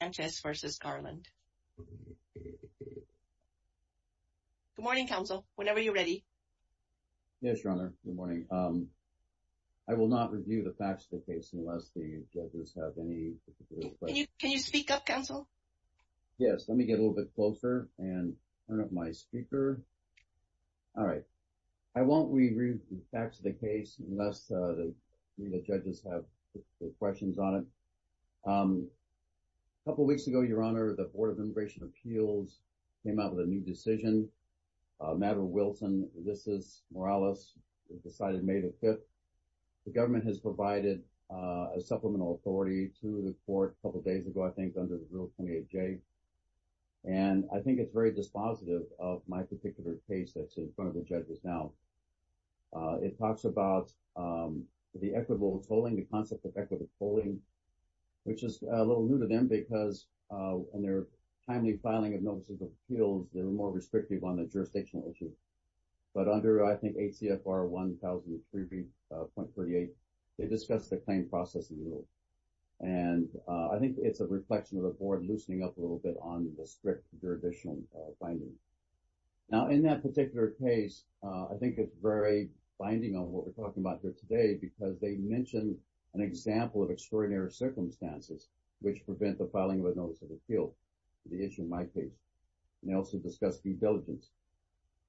Good morning, counsel, whenever you're ready. Yes, your honor. Good morning. I will not review the facts of the case unless the judges have any particular questions. Can you speak up, counsel? Yes, let me get a little bit closer and turn up my speaker. All right. I won't review the facts of the case unless the judges have questions on it. A couple weeks ago, your honor, the Board of Immigration Appeals came out with a new decision. Madeline Wilson, this is Morales, decided May the 5th. The government has provided a supplemental authority to the court a couple days ago, I think, under the rule 28J. And I think it's very dispositive of my particular case that's in front of the judges now. It talks about the equitable tolling, the concept of equitable tolling, which is a little new to them because in their timely filing of notices of appeals, they were more restrictive on the jurisdictional issue. But under, I think, ACFR 1003.38, they discussed the claim processing rule. And I think it's a reflection of the board loosening up a little bit on the strict jurisdictional binding. Now, in that particular case, I think it's very binding on what we're talking about here today because they mentioned an example of extraordinary circumstances which prevent the filing of a notice of appeal to the issue in my case. And they also discussed due diligence.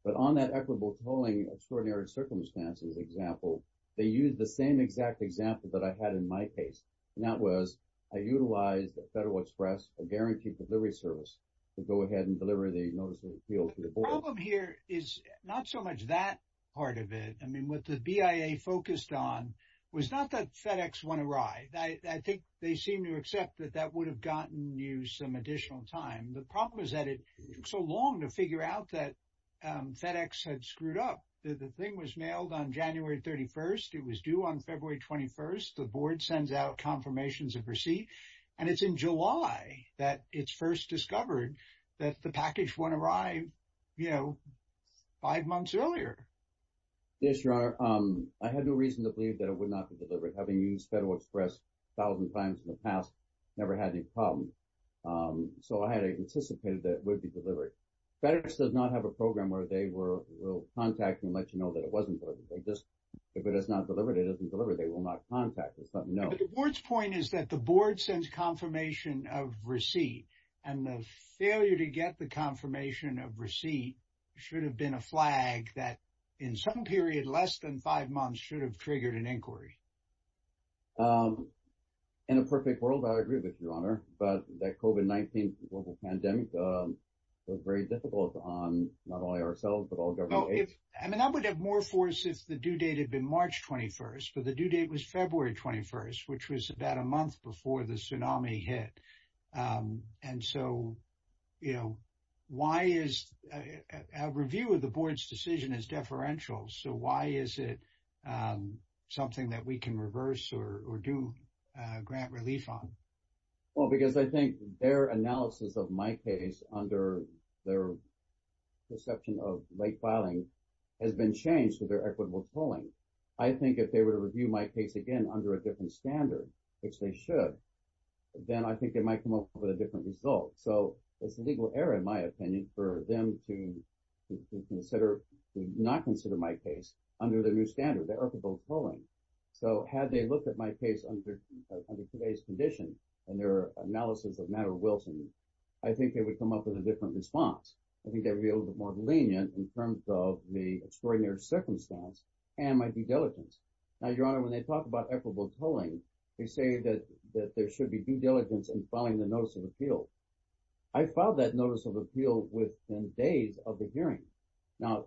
But on that equitable tolling extraordinary circumstances example, they use the same exact example that I had in my case. And that was I utilized Federal Express, a guaranteed delivery service, to go ahead and deliver the notice of appeal to the board. The problem here is not so much that part of it. I mean, what the BIA focused on was not that FedEx went awry. I think they seem to accept that that would have gotten you some additional time. The problem is that it took so long to figure out that FedEx had screwed up. The thing was mailed on January 31st. It was due on February 21st. The board sends out confirmations of receipt. And it's in July that it's first discovered that the you know, five months earlier. Yes, Your Honor. I had no reason to believe that it would not be delivered. Having used Federal Express a thousand times in the past, never had any problem. So I had anticipated that it would be delivered. FedEx does not have a program where they will contact and let you know that it wasn't delivered. If it is not delivered, it isn't delivered. They will not contact us, but no. But the board's point is that the board sends confirmation of receipt. And the failure to get the confirmation of receipt should have been a flag that, in some period less than five months, should have triggered an inquiry. In a perfect world, I agree with you, Your Honor. But that COVID-19 global pandemic was very difficult on not only ourselves, but all government aides. I mean, I would have more force if the due date had been March 21st. But the due date was February 21st, which was about a month before the tsunami hit. And so, you know, why is a review of the board's decision as deferential? So why is it something that we can reverse or do grant relief on? Well, because I think their analysis of my case under their perception of late filing has been changed to their equitable tolling. I think if they were to review my case again under a different standard, which they should, then I think they might come up with a different result. So it's a legal error, in my opinion, for them to not consider my case under their new standard, their equitable tolling. So had they looked at my case under today's condition and their analysis of Maddow-Wilson, I think they would come up with a different response. I think they would be a little bit more lenient in terms of the extraordinary circumstance and my due diligence. Now, Your Honor, when they talk about equitable tolling, they say that there should be due diligence in filing the notice of appeal. I filed that notice of appeal within days of the hearing. Now,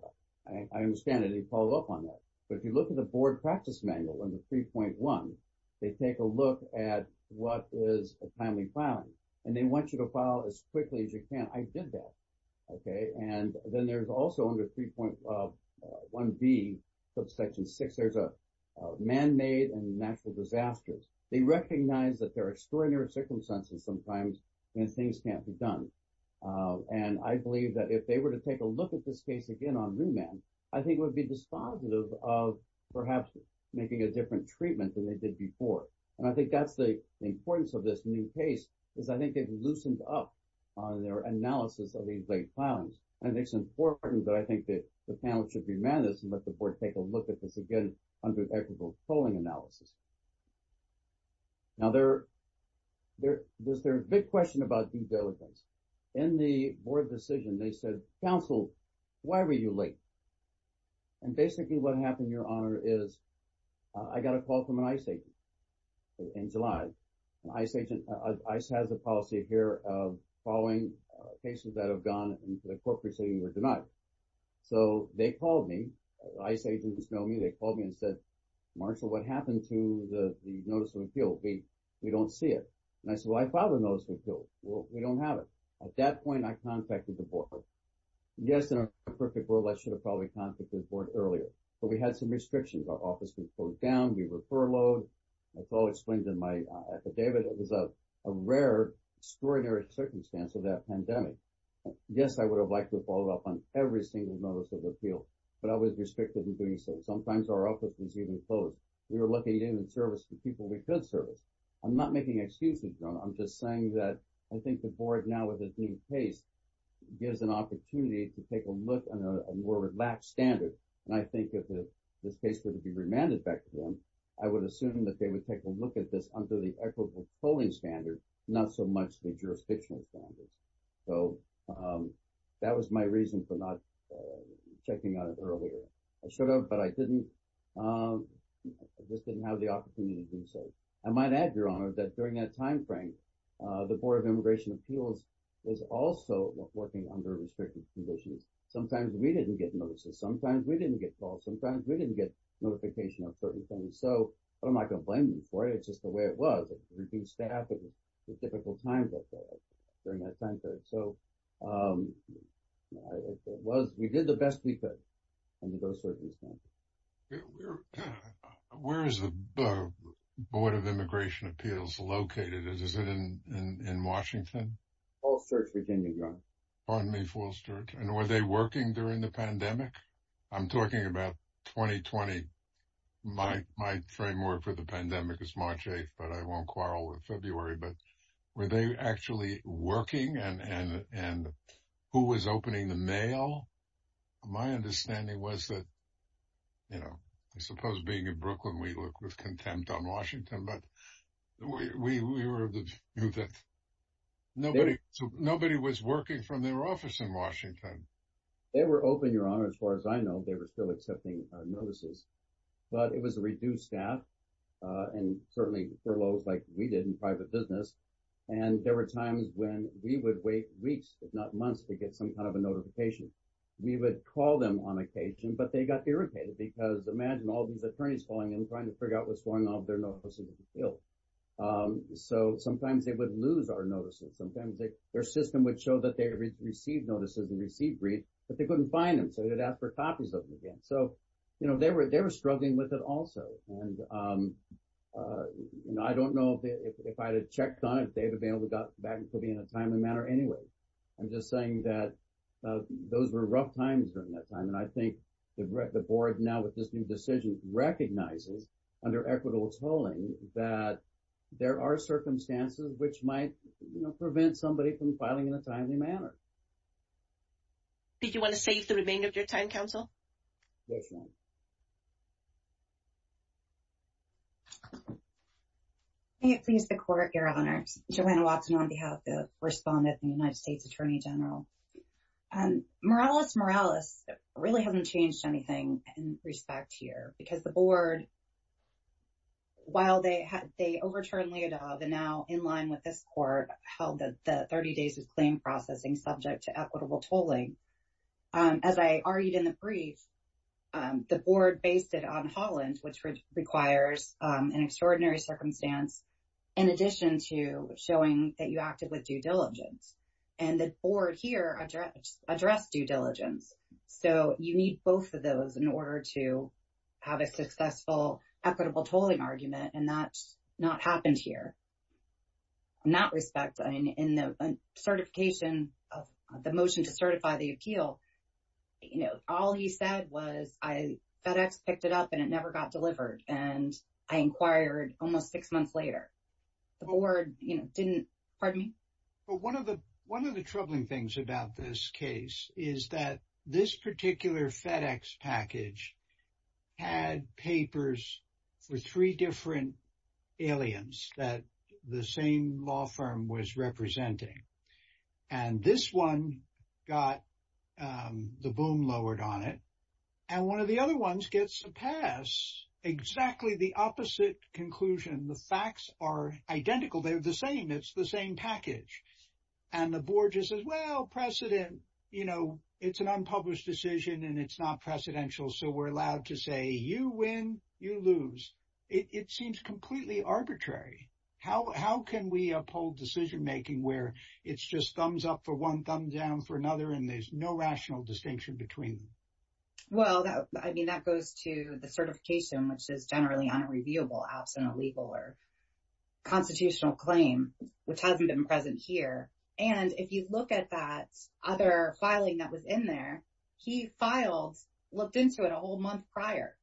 I understand that they followed up on that. But if you look at the board practice manual in the 3.1, they take a look at what is a timely filing, and they want you to file as quickly as you can. I did that. And then there's also under 3.1b, subsection 6, there's a man-made and natural disasters. They recognize that there are extraordinary circumstances sometimes when things can't be done. And I believe that if they were to take a look at this case again on remand, I think it would be dispositive of perhaps making a different treatment than they did before. And I think that's the importance of this new case, is I think they've loosened up on their analysis of these late filings. And it's important that I think that the panel should be managed and let the board take a look at this again under equitable tolling analysis. Now, there's their big question about due diligence. In the board decision, they said, counsel, why were you late? And basically, what happened, Your Honor, is I got a call from an ICE agent in July. And ICE has a policy here of following cases that have gone into the court proceeding or denied. So, they called me, ICE agents know me, they called me and said, Marshall, what happened to the notice of appeal? We don't see it. And I said, well, I filed a notice of appeal. Well, we don't have it. At that point, I contacted the board. Yes, in a perfect world, I should have probably contacted the board earlier. But we had some restrictions. Our office was closed down, we were furloughed. That's all explained in my affidavit. It was a rare, extraordinary circumstance of that pandemic. Yes, I would have liked to have followed up on every single notice of appeal. But I was restricted in doing so. Sometimes our office was even closed. We were looking in and servicing people we could service. I'm not making excuses, Your Honor. I'm just saying that I think the board now with a new case gives an opportunity to take a look at a more relaxed standard. And I think if this case were to be remanded back to them, I would assume that they would take a look at this under the equitable polling standard, not so much the jurisdictional standards. So, that was my reason for not checking on it earlier. I should have, but I just didn't have the opportunity to do so. I might add, Your Honor, that during that timeframe, the Board of Immigration Appeals was also working under restricted conditions. Sometimes we didn't get notices, sometimes we didn't get calls, sometimes we didn't get notification of certain things. So, I'm not going to blame them for it. It's just the way it was. It reduced staff at the typical times during that time period. So, we did the best we could under those circumstances. Where is the Board of Immigration Appeals located? Is it in Washington? Falls Church, Virginia, Your Honor. Pardon me, Falls Church. And were they working during the pandemic? I'm talking about 2020. My framework for the pandemic is March 8, but I won't quarrel with February. But were they actually working? And who was opening the mail? My understanding was that, you know, I suppose being in Brooklyn, we look with contempt on Washington, but we were of the view that nobody was working from their office in Washington. They were open, Your Honor. As far as I know, they were still accepting notices. But it was a reduced staff and certainly furloughs like we did in private business. And there were times when we would wait weeks, if not months, to get some kind of a notification. We would call them on occasion, but they got irritated because imagine all these attorneys calling and trying to figure out what's going on with their notices. So, sometimes they would lose our notices. Sometimes their system would show that they received notices and received briefs, but they couldn't find them. So, they'd ask for copies of them again. So, you know, they were struggling with it also. And I don't know if I had checked on it, they would have been able to get back to me in a timely manner anyway. I'm just saying that those were rough times during that time. And I think the board now with this new decision recognizes under equitable tolling that there are from filing in a timely manner. Did you want to save the remainder of your time, counsel? Yes, ma'am. May it please the court, Your Honor. Joanna Watson on behalf of the respondent and United States Attorney General. Morales, Morales really hasn't changed anything in respect here because the board, while they overturned Leodov and now in line with this court held the 30 days of claim processing subject to equitable tolling. As I argued in the brief, the board based it on Holland, which requires an extraordinary circumstance in addition to showing that you acted with due diligence. And the board here addressed due diligence. So, you need both of those in order to have a successful equitable tolling argument. And that's not happened here. Not respecting in the certification of the motion to certify the appeal, you know, all he said was FedEx picked it up and it never got delivered. And I inquired almost six months later. The board, you know, didn't, pardon me? But one of the troubling things about this case is that this particular FedEx package had papers for three different aliens that the same law firm was representing. And this one got the boom lowered on it. And one of the other ones gets a pass, exactly the opposite conclusion. The facts are identical. They're the same. It's the same package. And the board just says, well, precedent, you know, it's an unpublished decision and it's not precedential. So, we're allowed to say you win, you lose. It seems completely arbitrary. How can we uphold decision making where it's just thumbs up for one, thumbs down for another, and there's no rational distinction between them? Well, I mean, that goes to the certification, which is generally unreviewable absent a legal or constitutional claim, which hasn't been present here. And if you look at that other filing that was in there, he filed, looked into it a whole month prior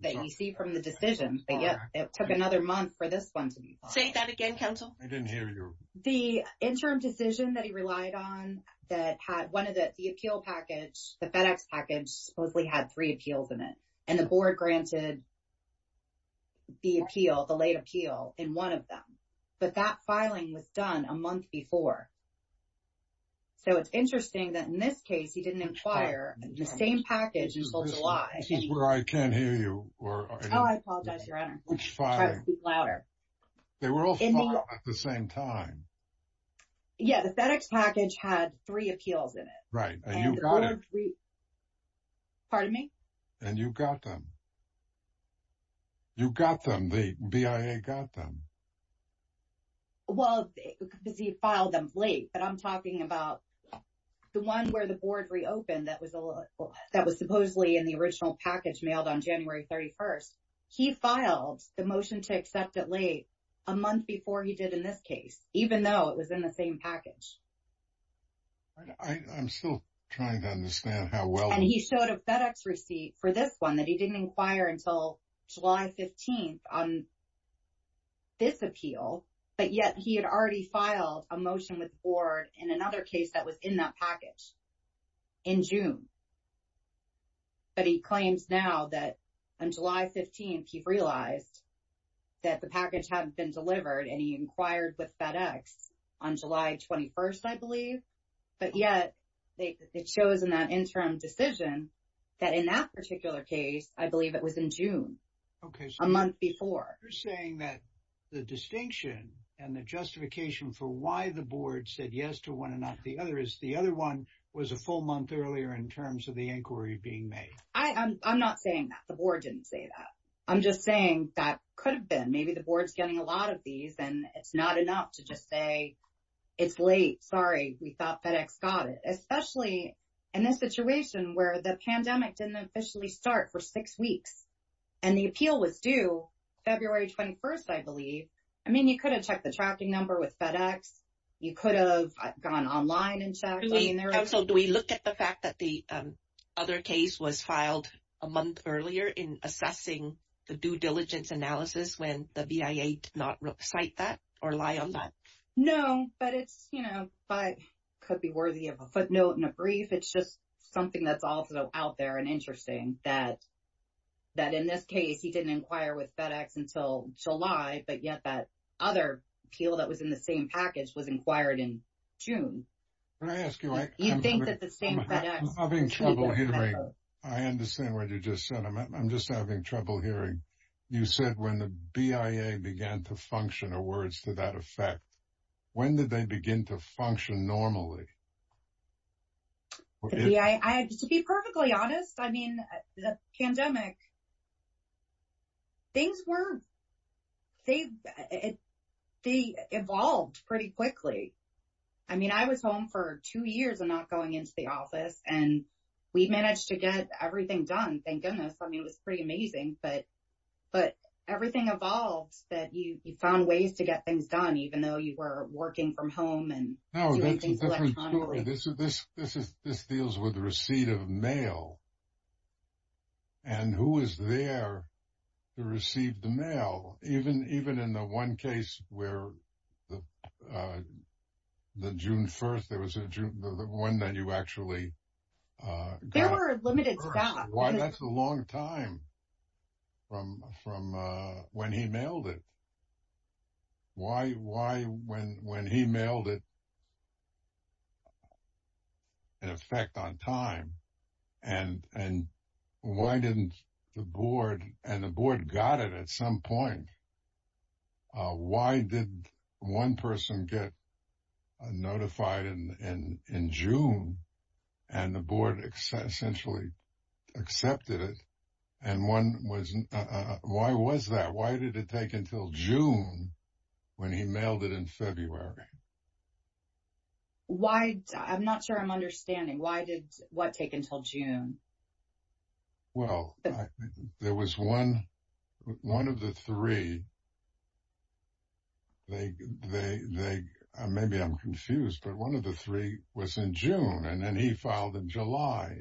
that you see from the decision. But yet, it took another month for this one to be filed. Say that again, counsel. I didn't hear you. The interim decision that he relied on that had one of the, the appeal package, the FedEx package, supposedly had three appeals in it. And the board granted the appeal, the late appeal in one of them. But that filing was done a month before. So, it's interesting that in this case, he didn't inquire. The same package until July. Excuse me, I can't hear you. Oh, I apologize, Your Honor. Which filing? Try to speak louder. They were all filed at the same time. Yeah, the FedEx package had three appeals in it. Right, and you got them. Pardon me? And you got them. You got them. The BIA got them. Well, because he filed them late. But I'm talking about the one where the board reopened that was supposedly in the original package mailed on January 31st. He filed the motion to accept it late a month before he did in this case, even though it was in the same package. I'm still trying to understand how well. And he showed a FedEx receipt for this one that he didn't inquire until July 15th on this appeal. But yet he had already filed a motion with the board in another case that was in that same. But he claims now that on July 15th, he realized that the package hadn't been delivered and he inquired with FedEx on July 21st, I believe. But yet it shows in that interim decision that in that particular case, I believe it was in June, a month before. You're saying that the distinction and the justification for why the board said yes to one and not the other is the other one was a full month earlier in terms of the inquiry being made. I'm not saying that. The board didn't say that. I'm just saying that could have been. Maybe the board's getting a lot of these and it's not enough to just say, it's late. Sorry. We thought FedEx got it, especially in this situation where the pandemic didn't officially start for six weeks. And the appeal was due February 21st, I believe. I mean, you could have checked the tracking number with FedEx. You could have gone online and checked. Do we look at the fact that the other case was filed a month earlier in assessing the due diligence analysis when the BIA did not cite that or lie on that? No, but it's, you know, could be worthy of a footnote and a brief. It's just something that's also out there and interesting that in this case, he didn't inquire with FedEx until July. But yet that other appeal that was in the same package was inquired in June. Can I ask you, I'm having trouble hearing. I understand what you just said. I'm just having trouble hearing. You said when the BIA began to function or words to that effect, when did they begin to function normally? To be perfectly honest, I mean, the pandemic, things weren't, they evolved pretty quickly. I mean, I was home for two years and not going into the office and we managed to get everything done. Thank goodness. I mean, it was pretty amazing. But everything evolved that you found ways to get things done, even though you were working from home and doing things electronically. No, that's a different story. This deals with the receipt of mail. And who is there to receive the mail? Even in the one case where the June 1st, there was a June, the one that you actually got. There were limited staff. That's a long time from when he mailed it. Why when he mailed it, in effect on time, and why didn't the board and the board got it at some point? Why did one person get notified in June and the board essentially accepted it? And one was, why was that? Why did it take until June when he mailed it in February? Why? I'm not sure I'm understanding. Why did what take until June? Well, there was one of the three. Maybe I'm confused, but one of the three was in June and then he filed in July.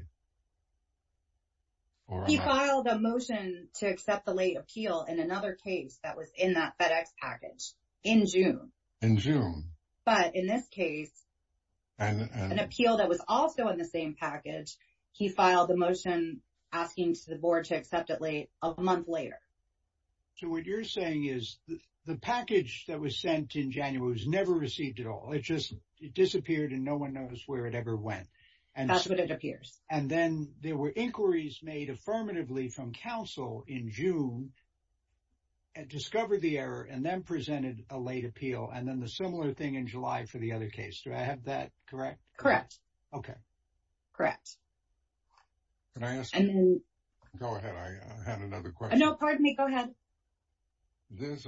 He filed a motion to accept the late appeal in another case that was in that FedEx package in June. In June. But in this case, an appeal that was also in the same package, he filed a motion asking the board to accept it late a month later. So what you're saying is the package that was sent in January was never received at all. It just disappeared and no one knows where it ever went. And that's what it appears. And then there were inquiries made affirmatively from counsel in June, and discovered the error and then presented a late appeal. And then the similar thing in July for the other case. Do I have that correct? Correct. Okay. Correct. Can I ask you? Go ahead. I had another question. No, pardon me. Go ahead. There's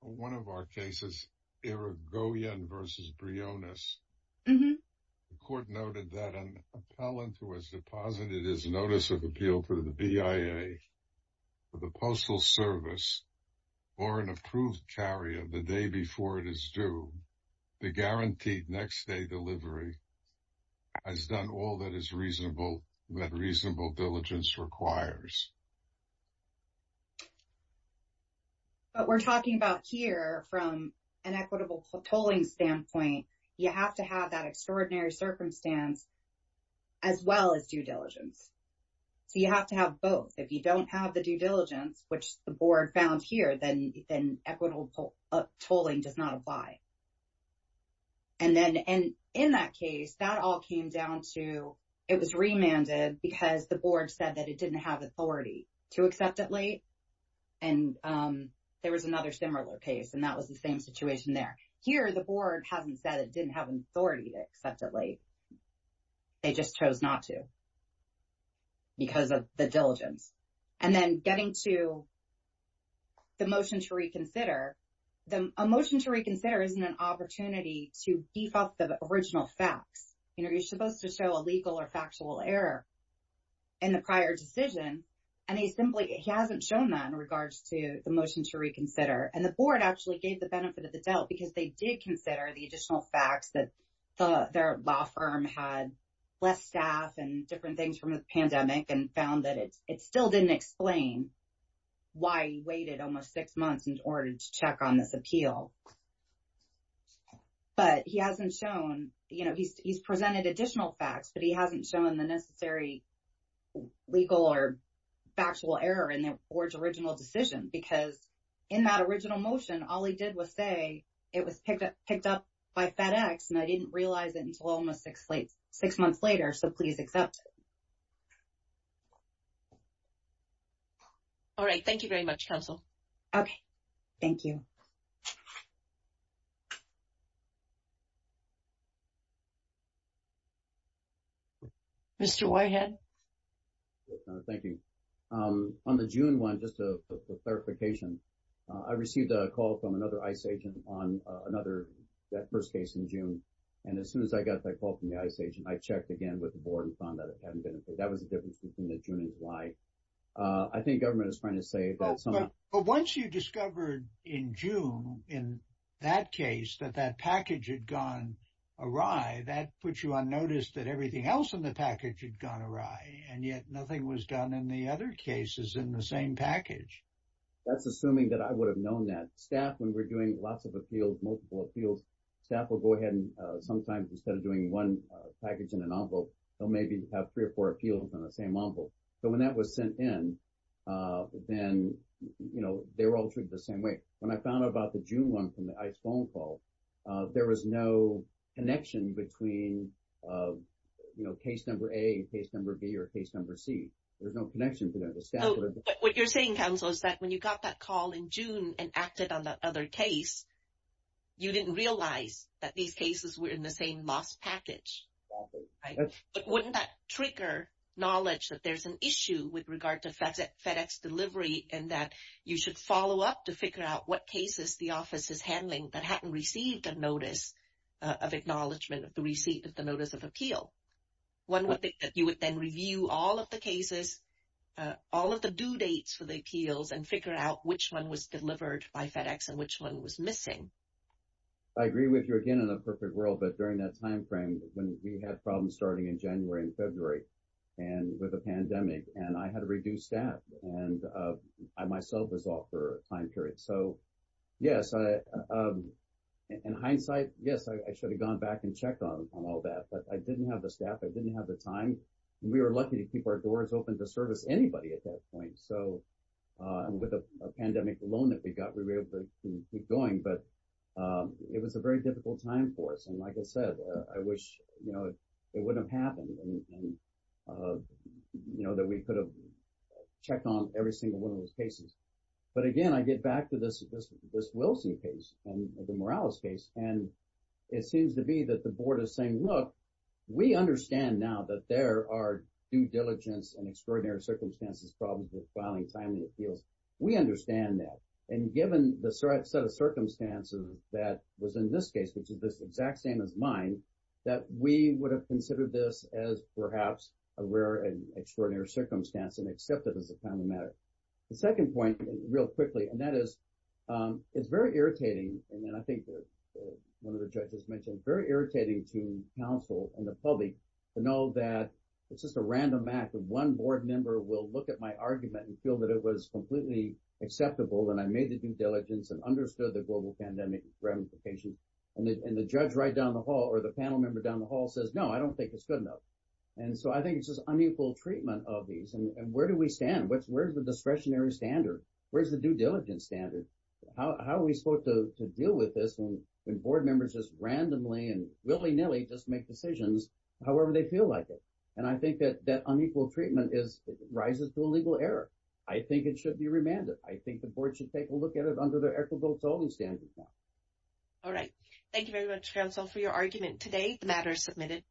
one of our cases, Irigoyen versus Briones. The court noted that an appellant who has deposited his notice of appeal to the BIA for the postal service or an approved carrier the day before it is due, the guaranteed next day delivery has done all that reasonable diligence requires. But we're talking about here from an equitable polling standpoint, you have to have that extraordinary circumstance as well as due diligence. So, you have to have both. If you don't have the due diligence, which the board found here, then equitable tolling does not apply. And then in that case, that all came down to, it was remanded because the board said that it didn't have authority to accept it late. And there was another similar case, and that was the same situation there. Here, the board hasn't said it didn't have an authority to accept it late. They just chose not to because of the diligence. And then getting to the motion to reconsider, a motion to reconsider isn't an opportunity to beef up the original facts. You're supposed to show a legal or factual error in the prior decision, and he simply hasn't shown that in regards to the motion to reconsider. And the board actually gave the benefit of the doubt because they did consider the additional facts that their law firm had less staff and different things from the pandemic and found that it still didn't explain why he waited almost six months in order to check on this appeal. But he hasn't shown, you know, he's presented additional facts, but he hasn't shown the necessary legal or factual error in the board's original decision. Because in that original motion, all he did was say it was picked up by FedEx, and I didn't realize it until almost six months later. So, please accept it. All right. Thank you very much, counsel. Okay. Thank you. Mr. Whitehead. Yes, ma'am. Thank you. On the June one, just a clarification, I received a call from another ICE agent on another, that first case in June. And as soon as I got that call from the ICE agent, I checked again with the board and found that it hadn't been approved. That was the difference between the June and July. I think government is trying to say that someone- But once you discovered in June, in that case, that that package had gone awry, that puts you on notice that everything else in the package had gone awry, and yet nothing was done in the other cases in the same package. That's assuming that I would have known that. Staff, when we're doing lots of appeals, multiple appeals, staff will go ahead and sometimes, instead of doing one package in an envelope, they'll maybe have three or four appeals in the same envelope. So, when that was sent in, then, you know, they were all treated the same way. When I found out about the June one from the ICE phone call, there was no connection between, you know, case number A, case number B, or case number C. There's no connection to that. The staff would have- What you're saying, counsel, is that when you got that call in June and acted on that other case, you didn't realize that these cases were in the same lost package. But wouldn't that trigger knowledge that there's an issue with regard to FedEx delivery and that you should follow up to figure out what cases the office is handling that hadn't received a notice of acknowledgment of the receipt of the notice of appeal? One would think that you would then review all of the cases, all of the due dates for the appeals, and figure out which one was delivered by FedEx and which one was missing. I agree with you, again, in a perfect world, but during that time frame, when we had problems starting in January and February with the pandemic, and I had a reduced staff, and I myself was off for a time period. So, yes, in hindsight, yes, I should have gone back and checked on all that. But I didn't have the staff. I didn't have the time. We were lucky to keep our doors open to service anybody at that point. So, with a pandemic alone that we got, we were able to keep going. But it was a very long time that we could have checked on every single one of those cases. But again, I get back to this Wilson case and the Morales case. And it seems to be that the board is saying, look, we understand now that there are due diligence and extraordinary circumstances problems with filing timely appeals. We understand that. And given the set of circumstances that was in this case, which is this exact same as mine, that we would have considered this as perhaps a rare and extraordinary circumstance and accepted as a timely matter. The second point, real quickly, and that is, it's very irritating. And then I think one of the judges mentioned very irritating to counsel and the public to know that it's just a random act of one board member will look at my argument and feel that it was completely acceptable and I made the due diligence and understood the global pandemic ramifications. And the judge right down the hall or the panel member down the hall says, no, I don't think it's good enough. And so, I think it's just unequal treatment of these. And where do we stand? Where's the discretionary standard? Where's the due diligence standard? How are we supposed to deal with this when board members just randomly and willy-nilly just make decisions, however they feel like it? And I think that unequal treatment rises to a legal error. I think it should be remanded. I think the board should take a look at it under the equitable standard. All right. Thank you very much, counsel, for your argument today. The matter is submitted.